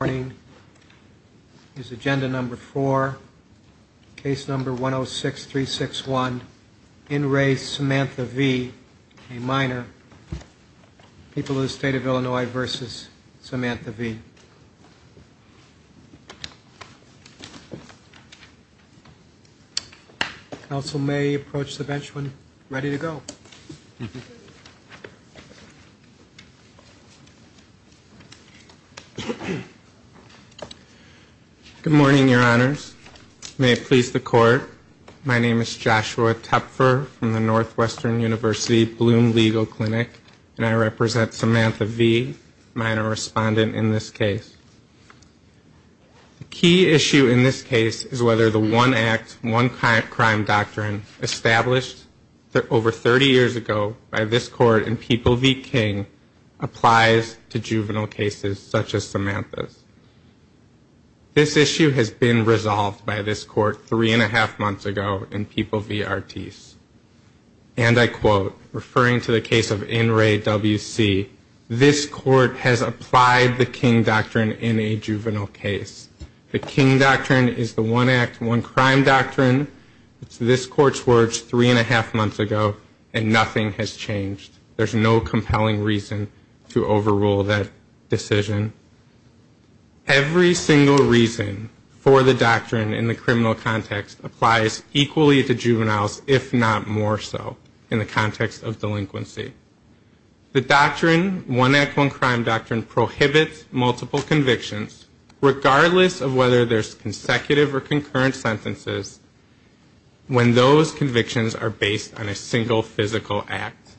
Morning. His agenda number four. Case number one oh six three six one. In race Samantha V. A minor. People in the state of Illinois versus Samantha V. Council may approach the bench when ready to go. Good morning, your honors. May it please the court. My name is Joshua Tepfer from the Northwestern University Bloom Legal Clinic. And I represent Samantha V., minor respondent in this case. The key issue in this case is whether the one act, one crime doctrine established over 30 years ago by this court in People v. King applies to juvenile cases such as Samantha's. This issue has been resolved by this court three and a half months ago in People v. Artis. And I quote, referring to the case of N. Ray W. C., this court has applied the King Doctrine in a juvenile case. The King Doctrine is the one act, one crime doctrine. It's this court's words three and a half months ago and nothing has changed. There's no compelling reason to overrule that decision. Every single reason for the doctrine in the criminal context applies equally to juveniles, if not more so, in the context of delinquency. The doctrine, one act, one crime doctrine, prohibits multiple convictions regardless of whether there's consecutive or concurrent sentences when those convictions are based on a single physical act.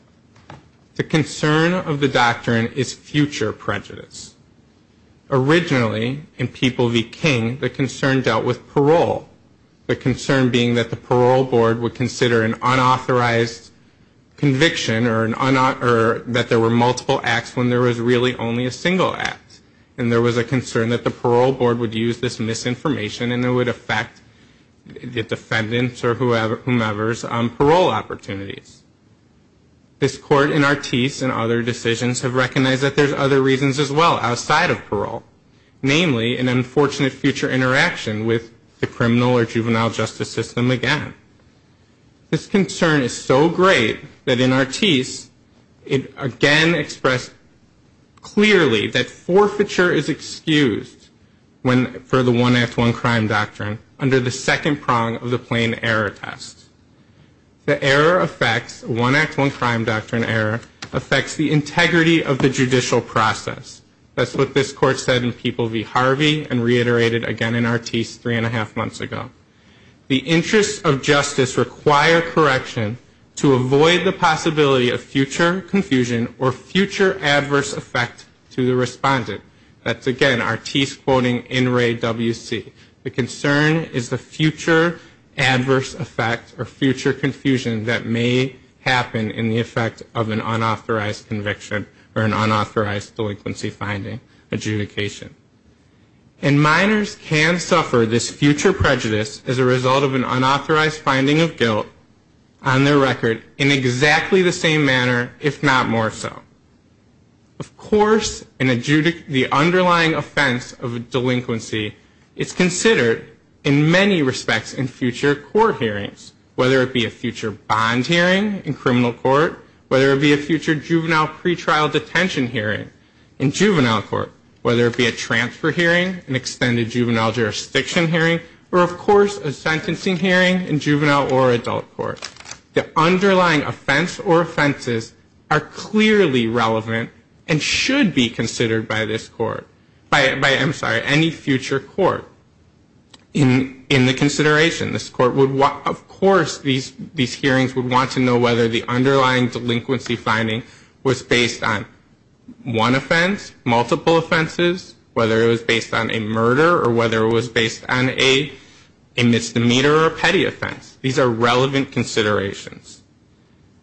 The concern of the doctrine is future prejudice. Originally, in People v. King, the concern dealt with parole. The concern being that the parole board would consider an unauthorized conviction or that there were multiple acts when there was really only a single act. And there was a concern that the parole board would use this misinformation and it would affect the defendant or whomever's parole opportunities. This court in Artis and other decisions have recognized that there's other reasons as well outside of parole. Namely, an unfortunate future interaction with the criminal or juvenile justice system again. This concern is so great that in Artis, it again expressed clearly that forfeiture is excused for the one act, one crime doctrine under the second prong of the plain error test. The error affects, one act, one crime doctrine error, affects the integrity of the judicial process. That's what this court said in People v. Harvey and reiterated again in Artis three and a half months ago. The interests of justice require correction to avoid the possibility of future confusion or future adverse effect to the respondent. That's again, Artis quoting In Re WC. The concern is the future adverse effect or future confusion that may happen in the effect of an unauthorized conviction or an unauthorized delinquency finding adjudication. And minors can suffer this future prejudice as a result of an unauthorized finding of guilt on their record in exactly the same manner, if not more so. Of course, the underlying offense of a delinquency is considered in many respects in future court hearings, whether it be a future bond hearing in criminal court, whether it be a future juvenile pretrial detention hearing in juvenile court, whether it be a transfer hearing, an extended juvenile jurisdiction hearing, or of course, a sentencing hearing in juvenile or adult court. The underlying offense or offenses are clearly relevant and should be considered by this court. By, I'm sorry, any future court in the consideration. This court would want, of course, these hearings would want to know whether the underlying delinquency finding was based on one offense, multiple offenses, whether it was based on a murder or whether it was based on a misdemeanor or a petty offense. These are relevant considerations.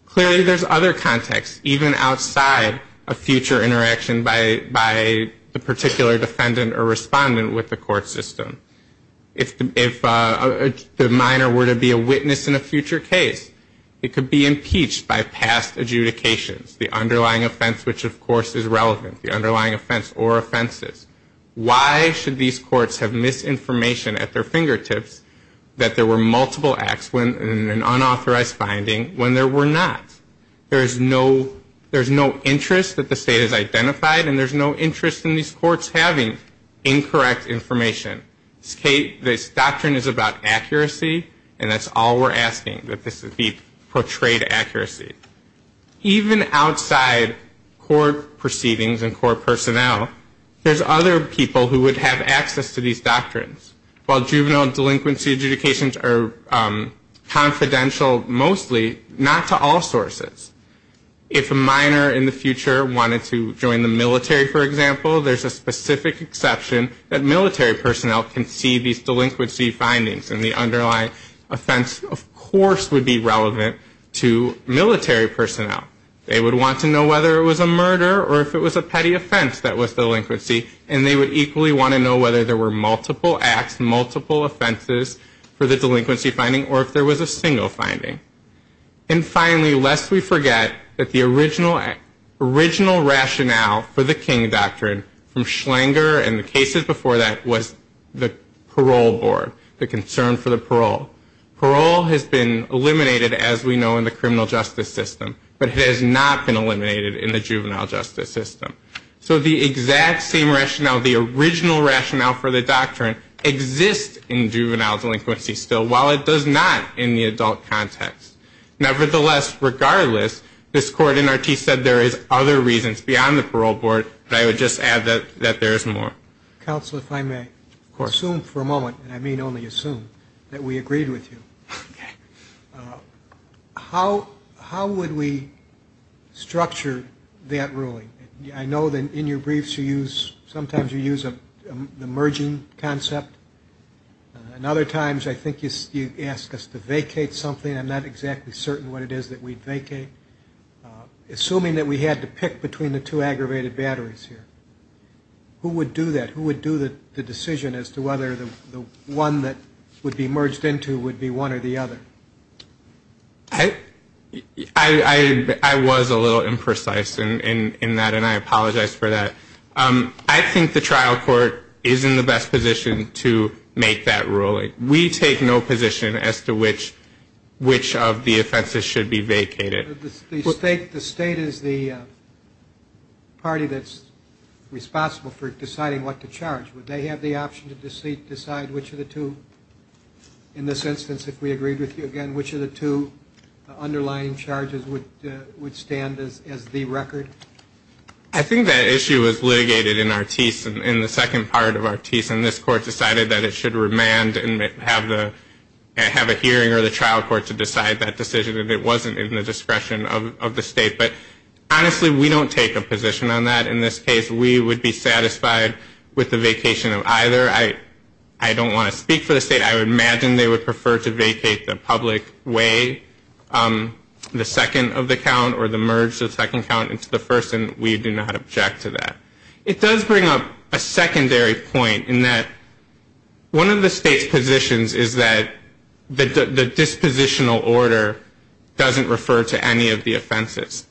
Clearly, there's other context, even outside a future interaction by the particular defendant or respondent with the court system. If the minor were to be a witness in a future case, it could be impeached by past adjudications, the underlying offense, which of course is relevant, the underlying offense or offenses. Why should these courts have misinformation at their fingertips that there were multiple acts in an unauthorized finding when there were not? There's no interest that the state has identified and there's no interest in these courts having incorrect information. This doctrine is about accuracy and that's all we're asking, that this be portrayed accuracy. Even outside court proceedings and court personnel, there's other people who would have access to these doctrines. While juvenile delinquency adjudications are confidential mostly, not to all sources. If a minor in the future wanted to join the military, for example, there's a specific exception that military personnel can see these delinquency findings and the underlying offense, of course, would be relevant to military personnel. They would want to know whether it was a murder or if it was a petty offense that was delinquency and they would equally want to know whether there were multiple acts, multiple offenses for the delinquency finding or if there was a single finding. And finally, lest we forget that the original rationale for the King Doctrine from Schlanger and the cases before that was the parole board, the concern for the parole. Parole has been eliminated, as we know, in the criminal justice system, but it has not been eliminated in the juvenile justice system. So the exact same rationale, the original rationale for the doctrine exists in juvenile delinquency still, while it does not in the adult context. Nevertheless, regardless, this court in our case said there is other reasons beyond the parole board, but I would just add that there is more. Counsel, if I may. Assume for a moment, and I mean only assume, that we agreed with you. How would we structure that ruling? I know that in your briefs you use, sometimes you use a merging concept. And other times I think you ask us to vacate something. I'm not exactly certain what it is that we'd vacate. Assuming that we had to pick between the two aggravated batteries here, who would do that? Who would do that? Who would do that? Who would do the decision as to whether the one that would be merged into would be one or the other? I was a little imprecise in that, and I apologize for that. I think the trial court is in the best position to make that ruling. We take no position as to which of the offenses should be vacated. The state is the party that's responsible for deciding what to charge. Would they have the option to decide which of the two, in this instance, if we agreed with you again, which of the two underlying charges would stand as the record? I think that issue was litigated in Artis, in the second part of Artis, and this court decided that it should remand and have a hearing or the trial court to decide that decision if it wasn't in the discretion of the state. But honestly, we don't take a position on that. In this case, we would be satisfied with the vacation of either. I don't want to speak for the state. I would imagine they would prefer to vacate the public way, the second of the count or the merge of the second count into the first, and we do not object to that. It does bring up a secondary point in that one of the state's positions is that the dispositional order doesn't refer to any of the offenses.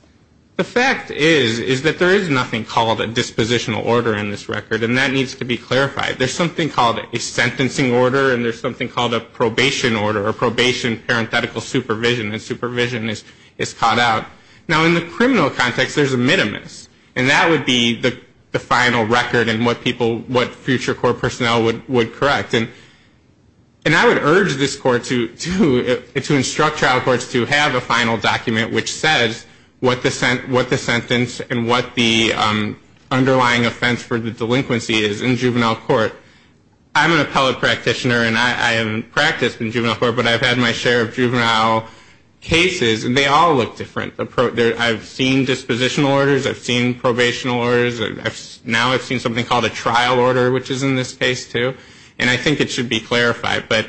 The fact is, is that there is nothing called a dispositional order in this record, and that needs to be clarified. There's something called a sentencing order, and there's something called a probation order, or probation, parenthetical, supervision, and supervision is caught out. Now, in the criminal context, there's a minimus, and that would be the final record and what people, what future court personnel would correct. And I would urge this court to instruct trial courts to have a final document which says what the sentence and what the underlying offense for the delinquency is in juvenile court. I'm an appellate practitioner, and I haven't practiced in juvenile court, but I've had my share of juvenile cases, and they all look different. I've seen dispositional orders, I've seen probational orders, and now I've seen something called a trial order, which is in this case, too, and I think it should be clarified. But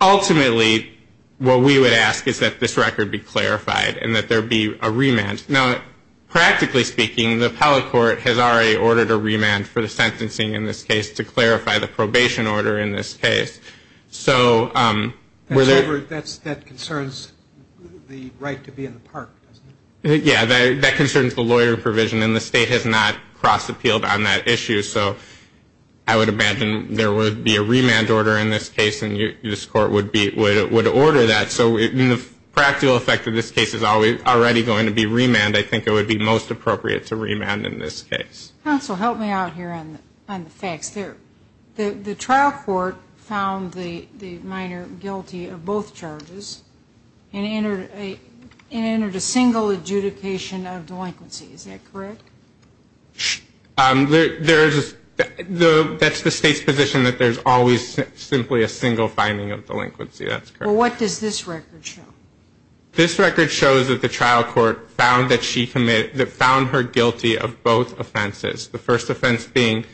ultimately, what we would ask is that this record be clarified and that there be a remand. Now, practically speaking, the appellate court has already ordered a remand for the sentencing in this case to clarify the probation order in this case. And that concerns the right to be in the park, doesn't it? Yeah, that concerns the lawyer provision, and the state has not cross-appealed on that issue, so I would imagine there would be a remand order in this case, and this court would order that. So in the practical effect of this case, it's already going to be remand. I think it would be most appropriate to remand in this case. Counsel, help me out here on the facts. The trial court found the minor guilty of both charges and entered a remand. They entered a single adjudication of delinquency. Is that correct? That's the state's position, that there's always simply a single finding of delinquency. That's correct. Well, what does this record show? This record shows that the trial court found her guilty of both offenses, the first offense being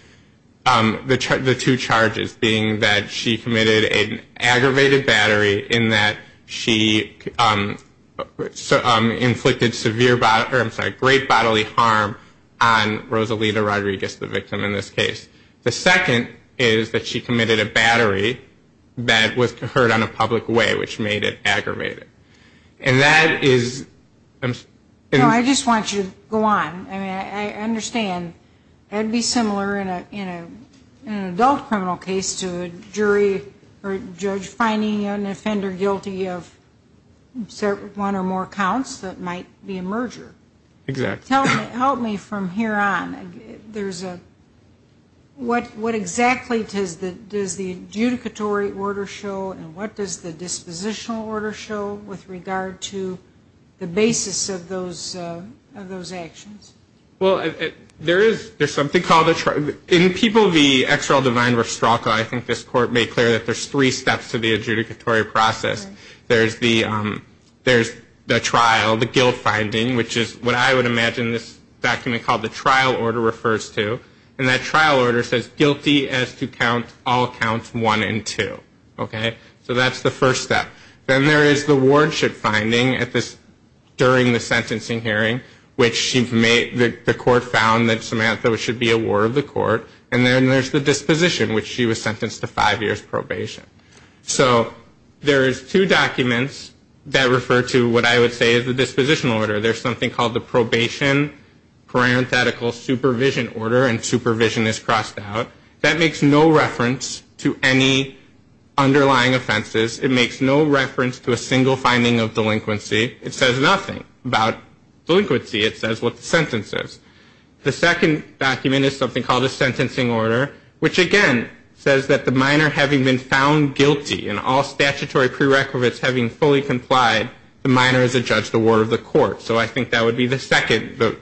the two charges, being that she inflicted great bodily harm on Rosalita Rodriguez, the victim, in this case. The second is that she committed a battery that was heard on a public way, which made it aggravated. No, I just want you to go on. I mean, I understand it would be similar in an adult criminal case to a jury or judge finding an individual guilty of one or more counts that might be a merger. Exactly. Help me from here on. What exactly does the adjudicatory order show and what does the dispositional order show with regard to the basis of those actions? Well, there's something called a trial. In People v. XRL Divine-Rostralco, I think this court made clear that there's three steps to the adjudicatory process. There's the trial, the guilt finding, which is what I would imagine this document called the trial order refers to. And that trial order says, guilty as to count all counts one and two. Okay? So that's the first step. Then there is the wardship finding during the sentencing hearing, which she's made clear that she's guilty of all counts one and two. The court found that Samantha should be a ward of the court. And then there's the disposition, which she was sentenced to five years probation. So there is two documents that refer to what I would say is the disposition order. There's something called the probation parenthetical supervision order, and supervision is crossed out. That makes no reference to any underlying offenses. It makes no reference to a single finding of delinquency. It says nothing about delinquency. It says what the sentence is. The second document is something called a sentencing order, which again says that the minor having been found guilty and all statutory prerequisites having fully complied, the minor is a judge of the ward of the court. So I think that would be the second, the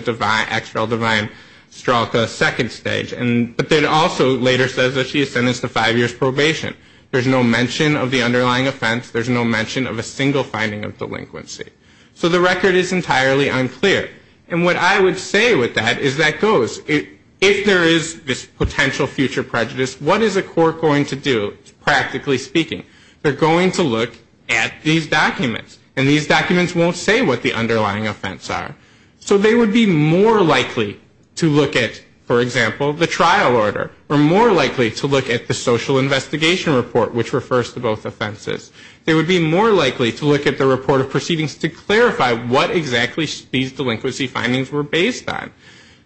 XRL Divine-Rostralco second stage. But then it also later says that she is sentenced to five years probation. There's no mention of the underlying offense. There's no mention of a single finding of delinquency. So the record is entirely unclear. And what I would say with that is that goes, if there is this potential future prejudice, what is a court going to do, practically speaking? They're going to look at these documents. And these documents won't say what the underlying offense are. So they would be more likely to look at, for example, the trial order, or more likely to look at the social investigation report, which refers to both offenses. They would be more likely to look at the report of proceedings to clarify what exactly these delinquency findings were based on.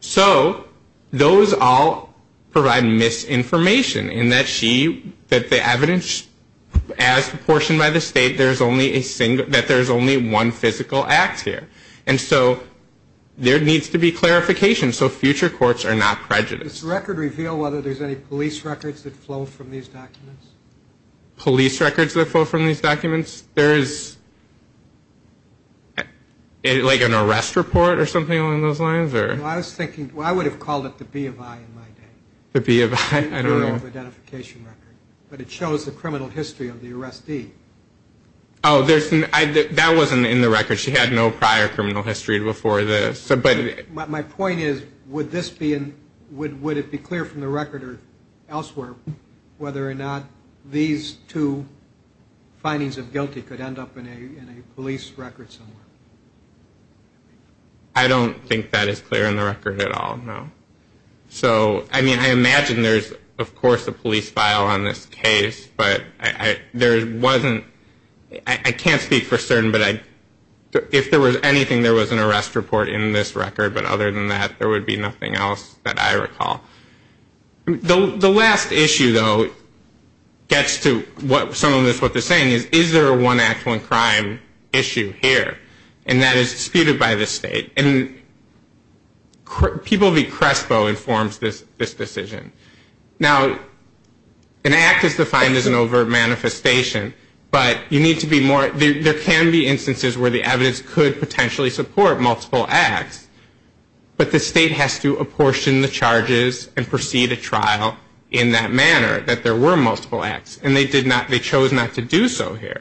So those all provide misinformation in that she, that the evidence, as proportioned by the state, there's only a single, that there's only one physical act here. And so there needs to be clarification so future courts are not prejudiced. Does the record reveal whether there's any police records that flow from these documents? Police records that flow from these documents? There is, like, an arrest report or something along those lines? I was thinking, I would have called it the B of I in my day. The B of I? I don't know. The identification record. But it shows the criminal history of the arrestee. Oh, there's, that wasn't in the record. She had no prior criminal history before this. My point is, would this be, would it be clear from the record or elsewhere whether or not these two findings of guilty could end up in a police record somewhere? I don't think that is clear in the record at all, no. So, I mean, I imagine there's, of course, a police file on this case. But there wasn't, I can't speak for certain, but if there was anything there was an arrest report in this case, it would be in this record, but other than that, there would be nothing else that I recall. The last issue, though, gets to what, some of this, what they're saying is, is there a one act, one crime issue here? And that is disputed by the state. And People v. Crespo informs this decision. Now, an act is defined as an overt manifestation, but you need to be more, there can be instances where the evidence could potentially support multiple acts, but the state has to apportion the charges and proceed a trial in that manner, that there were multiple acts. And they did not, they chose not to do so here.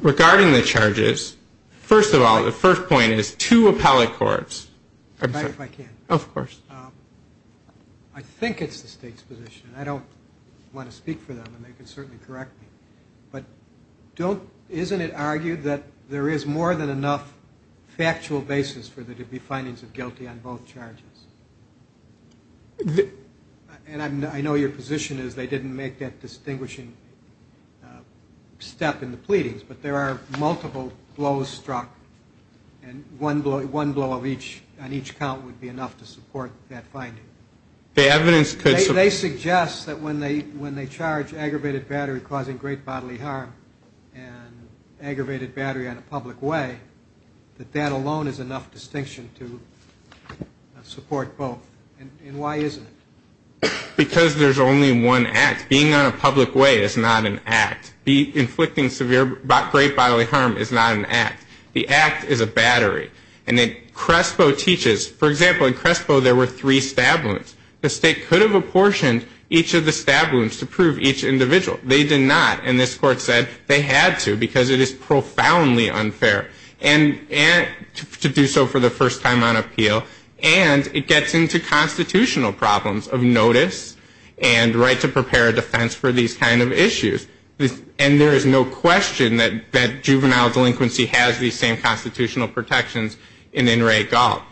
Regarding the charges, first of all, the first point is, two appellate courts, I'm sorry. I think it's the state's position. I don't want to speak for them, and they can certainly correct me. But don't, isn't it argued that there is more than enough factual basis for there to be findings of guilty on both charges? And I know your position is they didn't make that distinguishing step in the pleadings, but there are multiple blows struck, and one blow on each count would be enough to support that finding. The evidence could... They suggest that when they charge aggravated battery causing great bodily harm and aggravated battery on a public way, that that alone is enough distinction to support both. And why isn't it? Because there's only one act. Being on a public way is not an act. The act is a battery. And Crespo teaches... For example, in Crespo there were three stab wounds. The state could have apportioned each of the stab wounds to prove each individual. They did not. And this court said they had to because it is profoundly unfair. And to do so for the first time on appeal. And it gets into constitutional problems of notice and right to prepare a defense for these kind of issues. And there is no question that juvenile delinquency has the same constitutional protections in In Re Gall.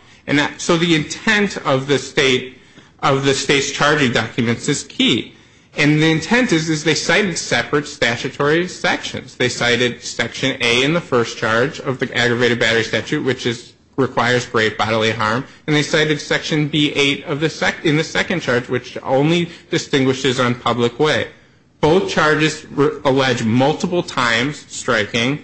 So the intent of the state's charging documents is key. And the intent is they cited separate statutory sections. They cited section A in the first charge of the aggravated battery statute, which requires great bodily harm. And they cited section B8 in the second charge, which only distinguishes on public way. Both charges allege multiple times striking.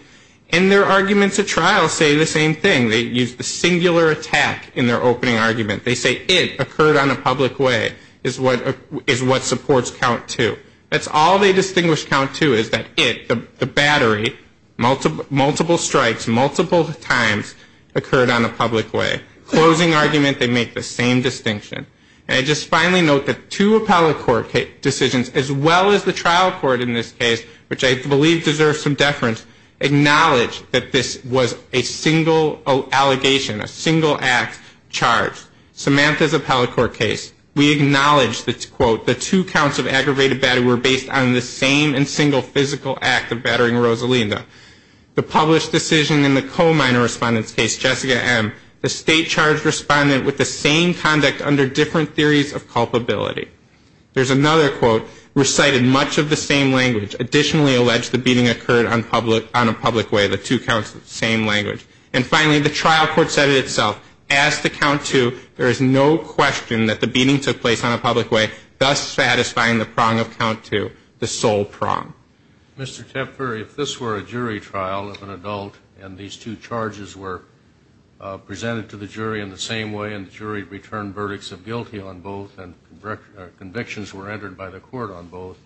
And their arguments at trial say the same thing. They use the singular attack in their opening argument. They say it occurred on a public way is what supports count two. That's all they distinguish count two is that it, the battery, multiple strikes, multiple times occurred on a public way. Closing argument, they make the same distinction. And I just finally note that two appellate court decisions, as well as the trial court in this case, which I believe deserves some deference, acknowledge that this was a single allegation, a single act charged. Samantha's appellate court case, we acknowledge that, quote, the two counts of aggravated battery were based on the same and single physical act of battering Rosalinda. The published decision in the co-minor respondent's case, Jessica M., the state charged respondent with the same conduct under different theories of culpability. There's another quote, recited much of the same language, additionally alleged the beating occurred on a public way, the two counts of the same language. And finally, the trial court said it itself, as to count two, there is no question that the beating took place on a public way, thus satisfying the prong of count two, the sole prong. Mr. Tapper, if this were a jury trial of an adult and these two charges were presented to the jury in the same way and the jury returned verdicts of guilty on both and convictions were entered by the court on both,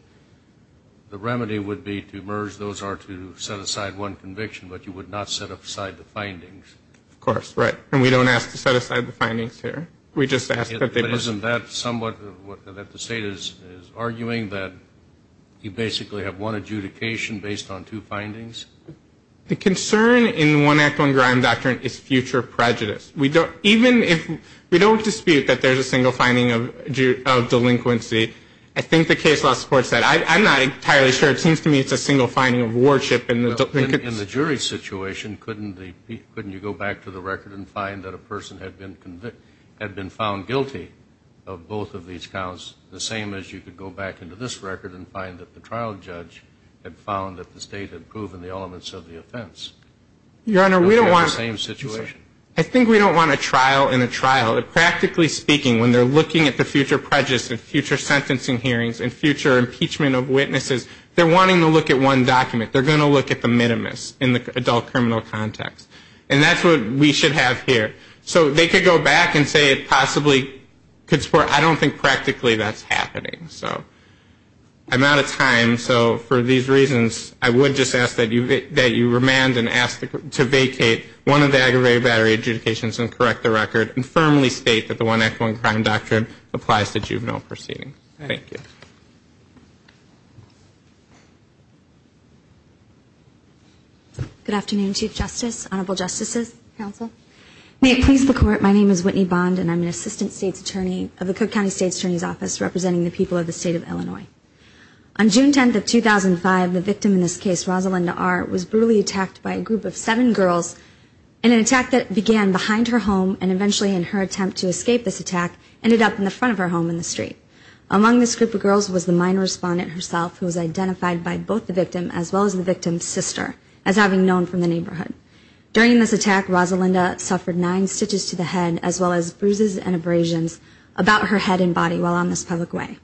the remedy would be to merge those or to set aside one conviction, but you would not set aside the findings. Of course, right. And we don't ask to set aside the findings here. We just ask that they be... But isn't that somewhat what the state is arguing, that you basically have one adjudication based on two findings? The concern in one act on grime doctrine is future prejudice. Even if we don't dispute that there's a single finding of delinquency, I think the case law supports that. I'm not entirely sure. It seems to me it's a single finding of worship and delinquency. In the jury situation, couldn't you go back to the record and find that a person had been found guilty of both of these counts, the same as you could go back into this record and find that the trial judge had found that the state had proven the elements of the offense? Your Honor, we don't want... In the same situation. I think we don't want a trial in a trial. Practically speaking, when they're looking at the future prejudice and future sentencing hearings and future impeachment of witnesses, they're wanting to look at one document. They're going to look at the minimus in the adult criminal context. And that's what we should have here. So they could go back and say it possibly could support... I don't think practically that's happening. So I'm out of time. So for these reasons, I would just ask that you remand and ask to vacate one of the aggravated battery adjudications and correct the record and firmly state that the one echoing crime doctrine applies to juvenile proceedings. Thank you. Good afternoon, Chief Justice, Honorable Justices, Counsel. May it please the Court, my name is Whitney Bond and I'm an Assistant State's Attorney of the Cook County State's Attorney's Office representing the people of the state of Illinois. On June 10th of 2005, the victim in this case, Rosalinda R., was brutally attacked by a group of seven girls and an attack that began behind her home and eventually in her attempt to escape this attack ended up in the front of her home in the street. Among this group of girls was the minor respondent herself who was identified by both the victim as well as the victim's sister as having known from the neighborhood. During this attack, Rosalinda suffered nine stitches to the head as well as bruises and abrasions about her head and body while on this public way.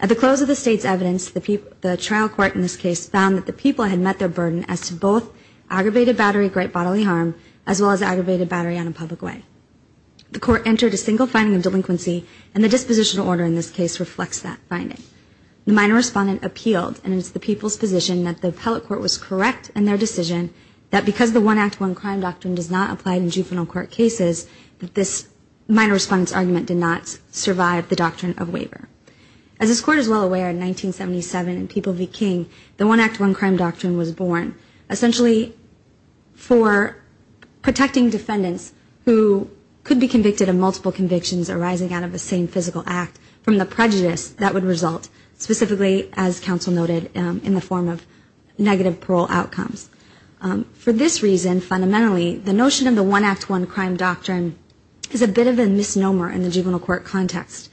At the close of the state's evidence, the trial court in this case found that the people had met their burden as to both aggravated battery, great bodily harm as well as aggravated battery on a public way. The court entered a single finding of delinquency and the dispositional order in this case reflects that finding. The minor respondent appealed and it's the people's position that the appellate court was correct in their decision that because the One Act, One Crime doctrine does not apply in juvenile court cases, that this minor respondent's argument did not survive the doctrine of waiver. As this court is well aware, in 1977 in People v. King the One Act, One Crime doctrine was born. Essentially for protecting defendants who could be convicted of multiple convictions arising out of the same physical act from the prejudice that would result, specifically as counsel noted in the form of negative parole outcomes. For this reason, fundamentally, the notion of the One Act, One Crime doctrine is a bit of a misnomer in the juvenile court context.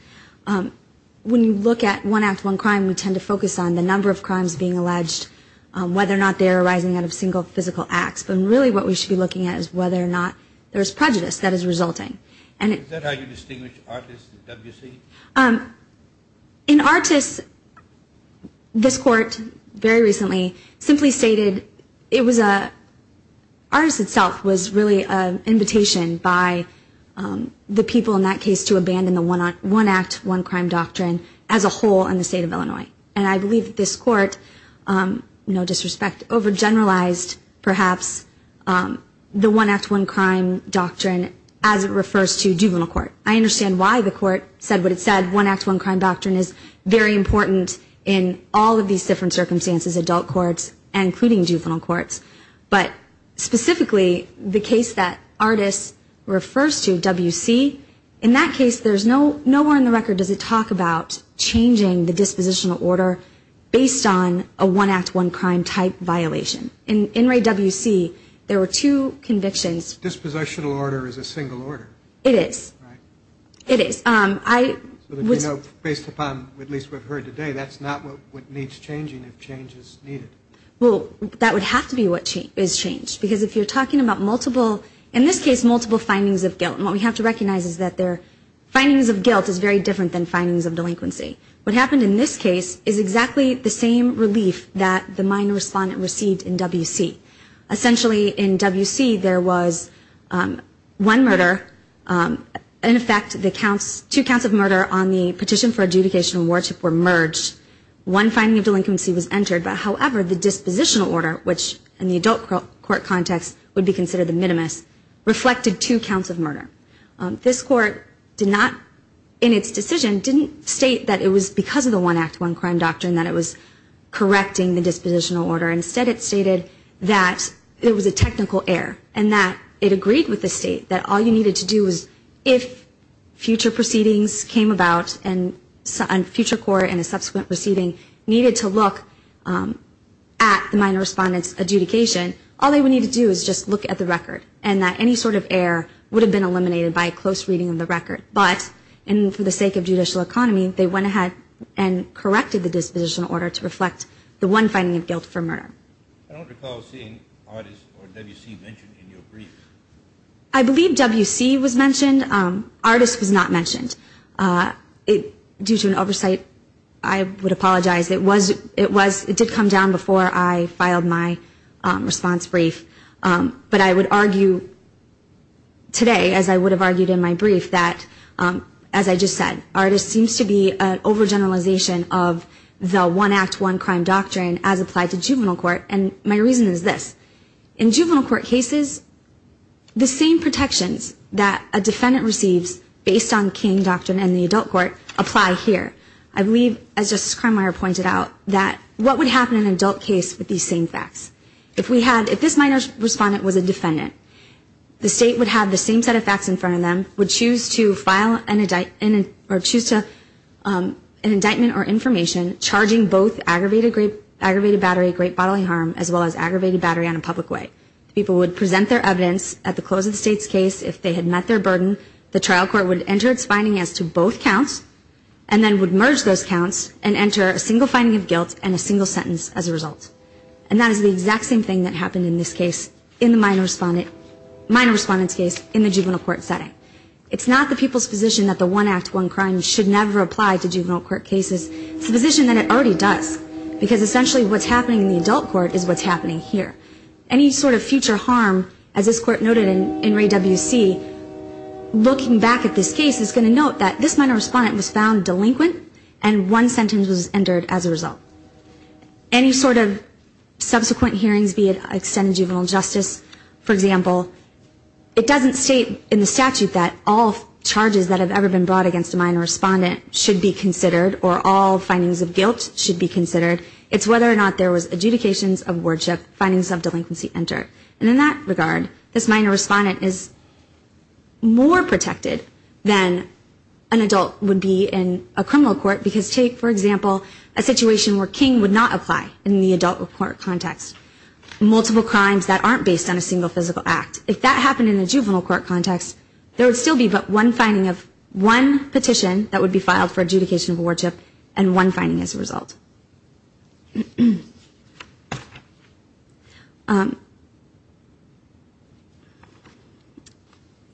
When you look at One Act, One Crime, we tend to focus on the number of crimes being alleged, whether or not they are arising out of single physical acts, but really what we should be looking at is whether or not there is prejudice that is resulting. Is that how you distinguish artists at WC? In artists, this court very recently simply stated artists itself was really an invitation by the people in that case to abandon the One Act, One Crime doctrine as a whole in the state of Illinois. I believe this court, no disrespect, overgeneralized perhaps the One Act, One Crime doctrine as it refers to juvenile court. I understand why the court said what it said. One Act, One Crime doctrine is very important in all of these different circumstances, adult courts, including juvenile courts. But specifically, the case that artists refers to WC, in that case, nowhere in the record does it talk about changing the dispositional order based on a One Act, One Crime type violation. In WC, there were two convictions. Dispositional order is a single order. It is. Based upon what we have heard today, that is not what needs changing if change is needed. That would have to be what is changed. In this case, multiple findings of guilt. What we have to recognize is findings of guilt is very different than findings of delinquency. What happened in this case is exactly the same relief that the minor respondent received in WC. Essentially, in WC, there was one murder. In effect, two counts of murder on the petition for adjudication and wardship were merged. One finding of delinquency was entered. However, the dispositional order, which in the adult court context would be considered the minimus, reflected two counts of murder. This court, in its decision, did not state that it was because of the One Act, One Crime doctrine that it was correcting the dispositional order. Instead, it stated that it was a technical error and that it agreed with the state that all you needed to do was if future proceedings came about and future court in a subsequent proceeding needed to look at the minor respondent's record and that any sort of error would have been eliminated by a close reading of the record. But, for the sake of judicial economy, they went ahead and corrected the dispositional order to reflect the one finding of guilt for murder. I don't recall seeing artist or WC mentioned in your brief. I believe WC was mentioned. Artist was not mentioned. Due to an oversight, I would apologize. It did come down before I filed my response brief. But I would argue today, as I would have argued in my brief, that, as I just said, artist seems to be an overgeneralization of the One Act, One Crime doctrine as applied to juvenile court. And my reason is this. In juvenile court cases, the same protections that a defendant receives based on King Doctrine and the adult court apply here. I believe, as Justice Krummeier pointed out, that juvenile court would have the same set of facts in front of them, would choose to file an indictment or information charging both aggravated battery, great bodily harm, as well as aggravated battery on a public way. People would present their evidence at the close of the state's case. If they had met their burden, the trial court would enter its finding as to both counts and then would merge those counts and enter a single finding as to both counts. And that is the exact same thing that happened in this case, in the minor respondent's case, in the juvenile court setting. It's not the people's position that the One Act, One Crime should never apply to juvenile court cases. It's a position that it already does, because essentially what's happening in the adult court is what's happening here. Any sort of future harm, as this court noted in Ray W.C., looking back at this case, is going to note that this minor respondent was found delinquent and one sentence was entered as a result. Any sort of subsequent hearings, be it extended juvenile justice, for example, it doesn't state in the statute that all charges that have ever been brought against a minor respondent should be considered, or all findings of guilt should be considered. It's whether or not there was adjudications of worship, findings of delinquency entered. And in that regard, this minor respondent is more protected than an adult would be in a criminal court, because take, for example, a situation where King would not apply in the adult court context. Multiple crimes that aren't based on a single physical act. If that happened in a juvenile court context, there would still be but one finding of one petition that would be filed in a juvenile court context.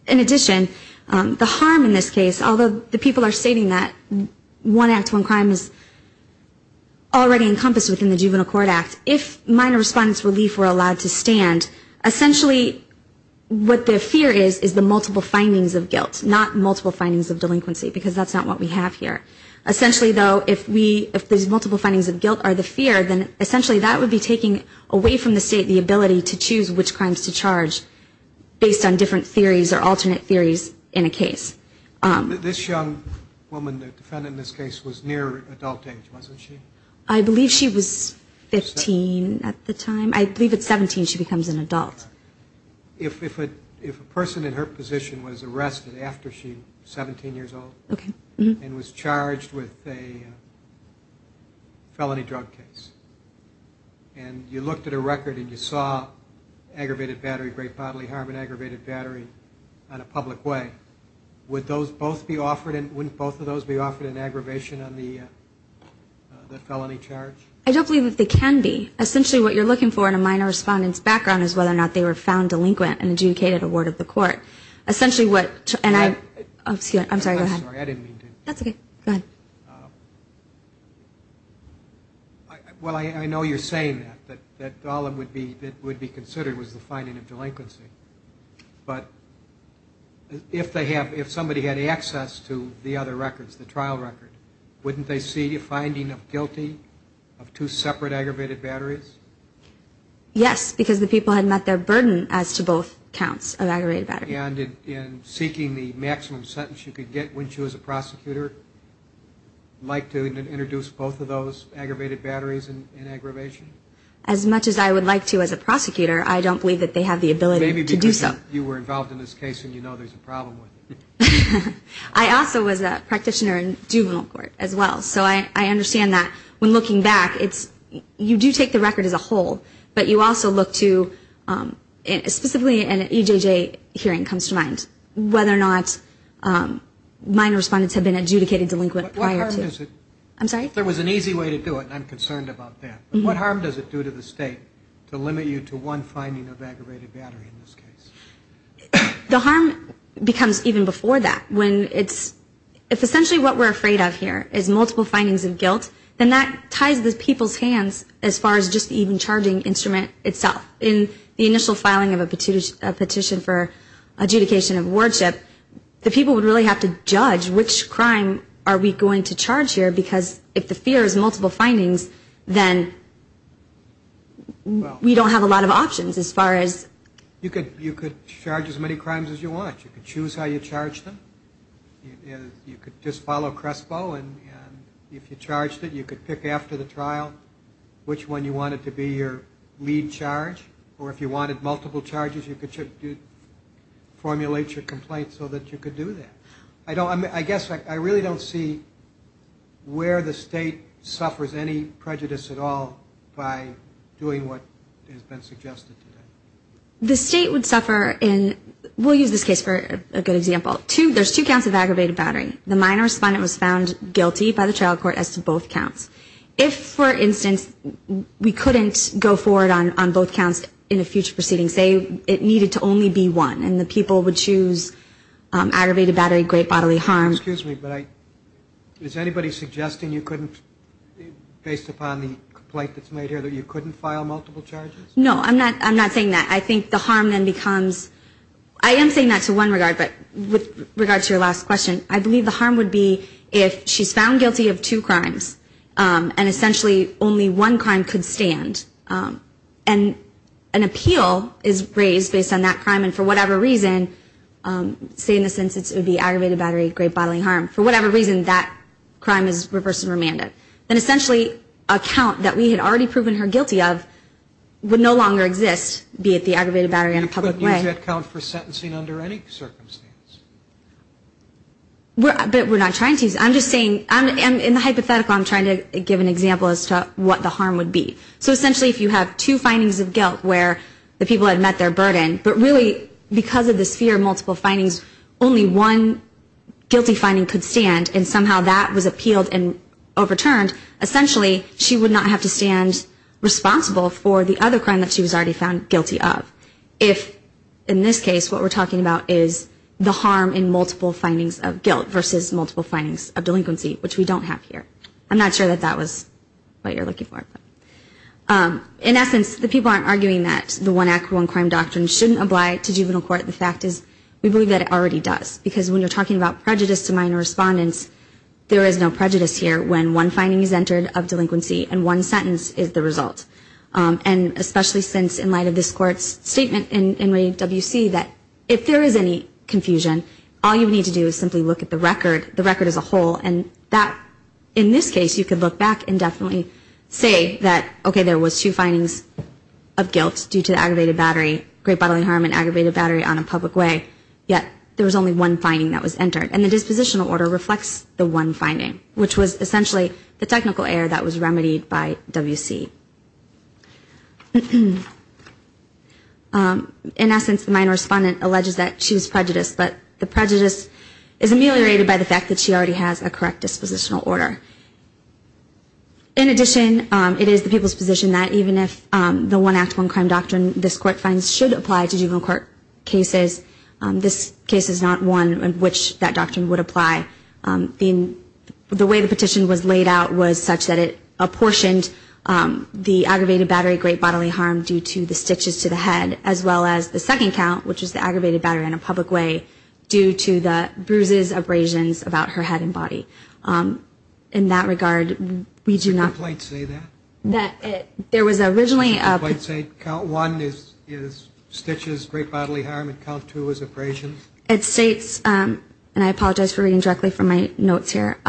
In addition, the harm in this case, although the people are stating that one act, one crime is already encompassed within the juvenile court act, if minor respondent's relief were allowed to stand, essentially what the fear is, is the multiple findings of guilt, not multiple findings of delinquency, because that's not what we have here. there's a chance that the minor respondent is going to be in a juvenile court context. If the multiple findings of guilt are the fear, then essentially that would be taking away from the state the ability to choose which crimes to charge based on different theories or alternate theories in a case. This young woman, the defendant in this case, was near adult age, wasn't she? I believe she was 15 at the time. I believe at 17 she becomes an adult. If a person in her position was arrested after she was 17 years old and was charged with a felony drug case, and you looked at her record and you saw aggravated battery, great bodily harm and aggravated battery on a public way, wouldn't both of those be offered in aggravation on the felony charge? I don't believe that they can be. Essentially what you're looking for in a minor respondent's record is whether or not they were found delinquent and adjudicated a word of the court. I'm sorry, go ahead. I know you're saying that, that all that would be considered was the finding of delinquency. But if somebody had access to the other records, the trial record, wouldn't they see a finding of guilty of two separate aggravated batteries? Yes, because the people had met their burden as to both counts of aggravated battery. And in seeking the maximum sentence you could get, wouldn't you as a prosecutor like to introduce both of those aggravated batteries in aggravation? As much as I would like to as a prosecutor, I don't believe that they have the ability to do so. Maybe because you were involved in this case and you know there's a problem with it. I also was a practitioner in juvenile court as well. So I understand that when looking back, you do take the record as a whole. But you also look to, specifically in an EJJ hearing comes to mind, whether or not minor respondents have been adjudicated delinquent prior to. There was an easy way to do it and I'm concerned about that. What harm does it do to the state to limit you to one finding of aggravated battery in this case? The harm becomes even before that when it's, if essentially what we're afraid of here is multiple findings of guilt, then that ties the people's hands as far as just even charging instrument itself. In the initial filing of a petition for adjudication of wardship, the people would really have to judge which crime are we going to charge here because if the fear is multiple findings, then we don't have a lot of options as far as. You could charge as many crimes as you want. You could choose how you charge them. You could just follow Crespo and if you charged it, you could pick after the trial which one you wanted to be your lead charge. Or if you wanted multiple charges, you could formulate your complaint so that you could do that. I guess I really don't see where the state suffers any prejudice at all by doing what has been suggested today. The state would suffer in, we'll use this case for a good example, two, there's two counts of aggravated battery. The minor respondent was found guilty by the trial court as to both counts. If, for instance, we couldn't go forward on both counts in a future proceeding, say it needed to only be one and the people would choose aggravated battery, great bodily harm. Excuse me, but I, is anybody suggesting you couldn't based upon the complaint that's made here that you couldn't file multiple charges? No, I'm not saying that. I think the harm then becomes, I am saying that to one regard, but with regard to your last question, I believe the harm would be if she's found guilty of two crimes and essentially only one crime could stand. And an appeal is raised based on that crime and for whatever reason, say in the sense it would be aggravated battery, great bodily harm, for whatever reason that crime is reversed and remanded. And essentially a count that we had already proven her guilty of would no longer exist, be it the aggravated battery in a public way. You couldn't use that count for sentencing under any circumstance? But we're not trying to. I'm just saying, in the hypothetical I'm trying to give an example as to what the harm would be. So essentially if you have two findings of guilt where the people had met their burden, but really because of this fear of multiple findings, only one guilty finding could stand and somehow that was appealed and overturned, essentially she would not have to stand responsible for the other crime that she was already found guilty of. If, in this case, what we're talking about is the harm in multiple findings of guilt versus multiple findings of delinquency, which we don't have here. I'm not sure that that was what you're looking for. In essence, the people aren't arguing that the one act, one crime doctrine shouldn't apply to juvenile court. The fact is, we believe that it already does. Because when you're talking about prejudice to minor respondents, there is no prejudice here when one finding is entered of delinquency and one sentence is the result. And especially since, in light of this Court's statement in NAWC, that if there is any confusion, all you need to do is simply look at the record, the record as a whole, and that, in this case, you could look back and definitely say that, okay, there was two findings of guilt due to the aggravated battery, on a public way, yet there was only one finding that was entered, and the dispositional order reflects the one finding, which was essentially the technical error that was remedied by WC. In essence, the minor respondent alleges that she was prejudiced, but the prejudice is ameliorated by the fact that she already has a correct dispositional order. In addition, it is the people's position that even if the one act, one crime doctrine this Court finds should apply to other cases, this case is not one in which that doctrine would apply. The way the petition was laid out was such that it apportioned the aggravated battery, great bodily harm, due to the stitches to the head, as well as the second count, which is the aggravated battery in a public way, due to the bruises, abrasions about her head and body. In that regard, we do not... There was originally... Count one is stitches, great bodily harm, and count two is abrasions. It states, and I apologize for reading directly from my notes here,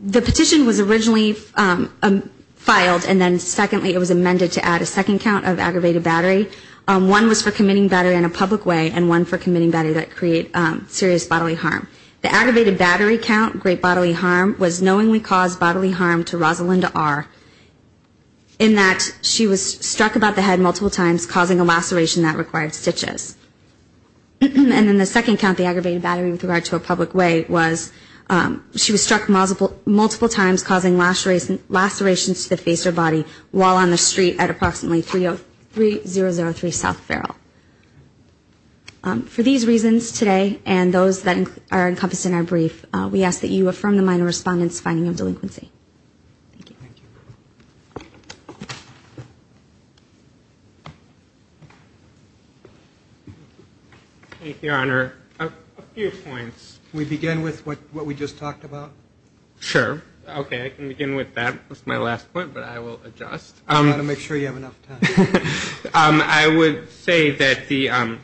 the petition was originally filed, and then secondly it was amended to add a second count of aggravated battery. One was for committing battery in a public way, and one for committing battery that create serious bodily harm. The aggravated battery count, great bodily harm, was knowingly caused bodily harm to Rosalinda R. in that she was struck about the head multiple times, causing a laceration that required stitches. And then the second count, the aggravated battery with regard to a public way, was she was struck multiple times, causing lacerations to the face or body while on the street at approximately 3003 South Feral. For these reasons today, and those that are encompassed in our brief, we ask that you affirm the minor respondent's finding of delinquency. Thank you. Thank you, Your Honor. A few points. Can we begin with what we just talked about? Sure. Okay, I can begin with that. That's my last point, but I will adjust. I want to make sure you have enough time. I would say that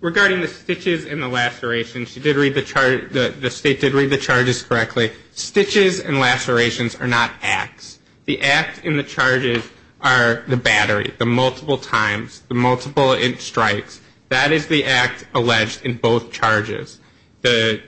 regarding the stitches and the lacerations, she did read the charges, the State did read the charges correctly. Stitches and lacerations are not acts. The act and the charges are the battery, the multiple times, the multiple strikes. That is the act alleged in both charges. The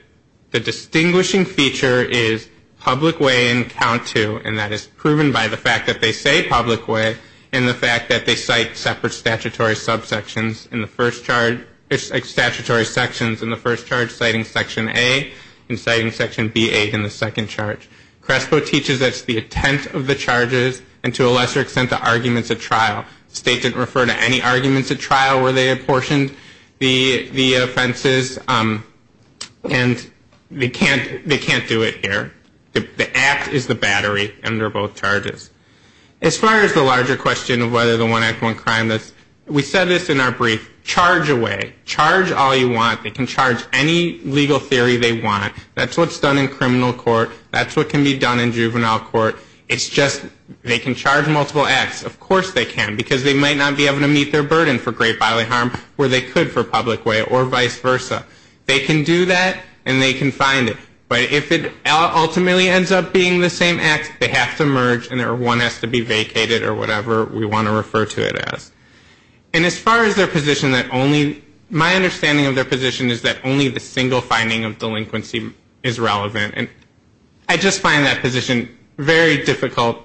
distinguishing feature is public way and count two, and that is proven by the fact that they say public way, and the fact that they cite separate statutory subsections in the first charge. Statutory sections in the first charge citing section A, and citing section BA in the second charge. Crespo teaches us the intent of the charges, and to a lesser extent, the arguments at trial. The State didn't refer to any arguments at trial where they apportioned the offenses, and they can't do it here. The act is the battery under both charges. As far as the larger question of whether the one act, one crime, we said this in our brief, charge away. Charge all you want. They can charge any legal theory they want. That's what's done in criminal court. That's what can be done in juvenile court. It's just they can charge multiple acts. Of course they can, because they might not be able to meet their burden for great bodily harm where they could for public way, or vice versa. They can do that, and they can find it. But if it ultimately ends up being the same act, they have to merge, and one has to be vacated or whatever we want to refer to it as. And as far as their position, my understanding of their position is that only the single finding of delinquency is relevant. I just find that position very difficult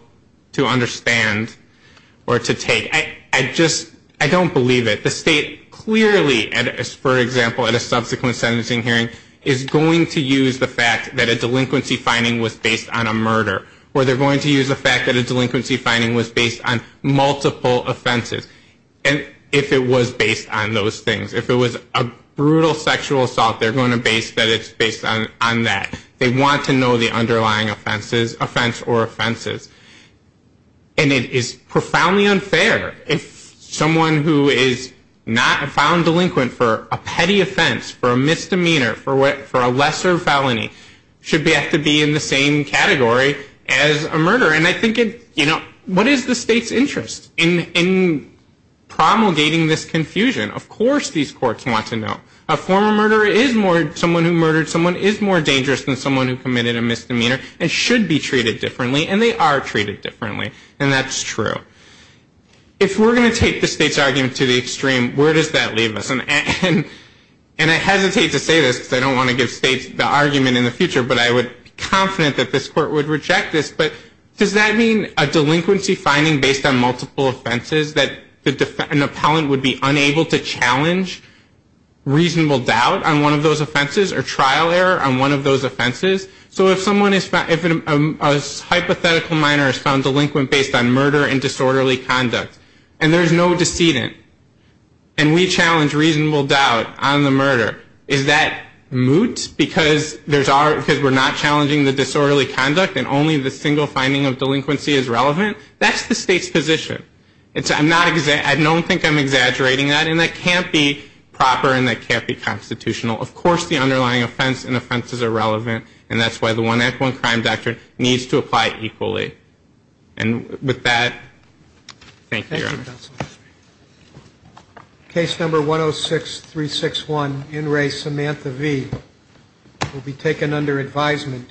to understand or to take. I don't believe it. The state clearly, for example, at a subsequent sentencing hearing is going to use the fact that a delinquency finding was based on a murder. Or they're going to use the fact that a delinquency finding was based on multiple offenses. And if it was based on those things, if it was a brutal sexual assault, they're going to base that it's based on that. They want to know the underlying offense or offenses. And it is profoundly unfair if someone who is not a found delinquent for a petty offense, for a misdemeanor, for a lesser felony, should have to be in the same category as a murder. And I think it, you know, what is the state's interest in promulgating this confusion? Of course these courts want to know. A former murderer is more, someone who murdered someone is more dangerous than someone who committed a misdemeanor and should be treated differently and they are treated differently. And that's true. If we're going to take the state's argument to the extreme, where does that leave us? And I hesitate to say this because I don't want to give states the argument in the future, but I would be confident that this court would reject this. But does that mean a delinquency finding based on multiple offenses that an appellant would be unable to challenge reasonable doubt on one of those offenses or trial error on one of those offenses? So if a hypothetical minor is found delinquent based on murder and disorderly conduct and there's no decedent and we challenge reasonable doubt on the murder, is that moot? Because we're not challenging the disorderly conduct and only the single finding of delinquency is relevant? That's the state's position. I don't think I'm exaggerating that and that can't be proper and that can't be constitutional. Of course the underlying offense and offenses are relevant and that's why the 1 Act 1 Crime Doctrine needs to apply equally. And with that, thank you, Your Honor. Thank you, Counsel. Case number 106361, In Re, Samantha V, will be taken under advisement.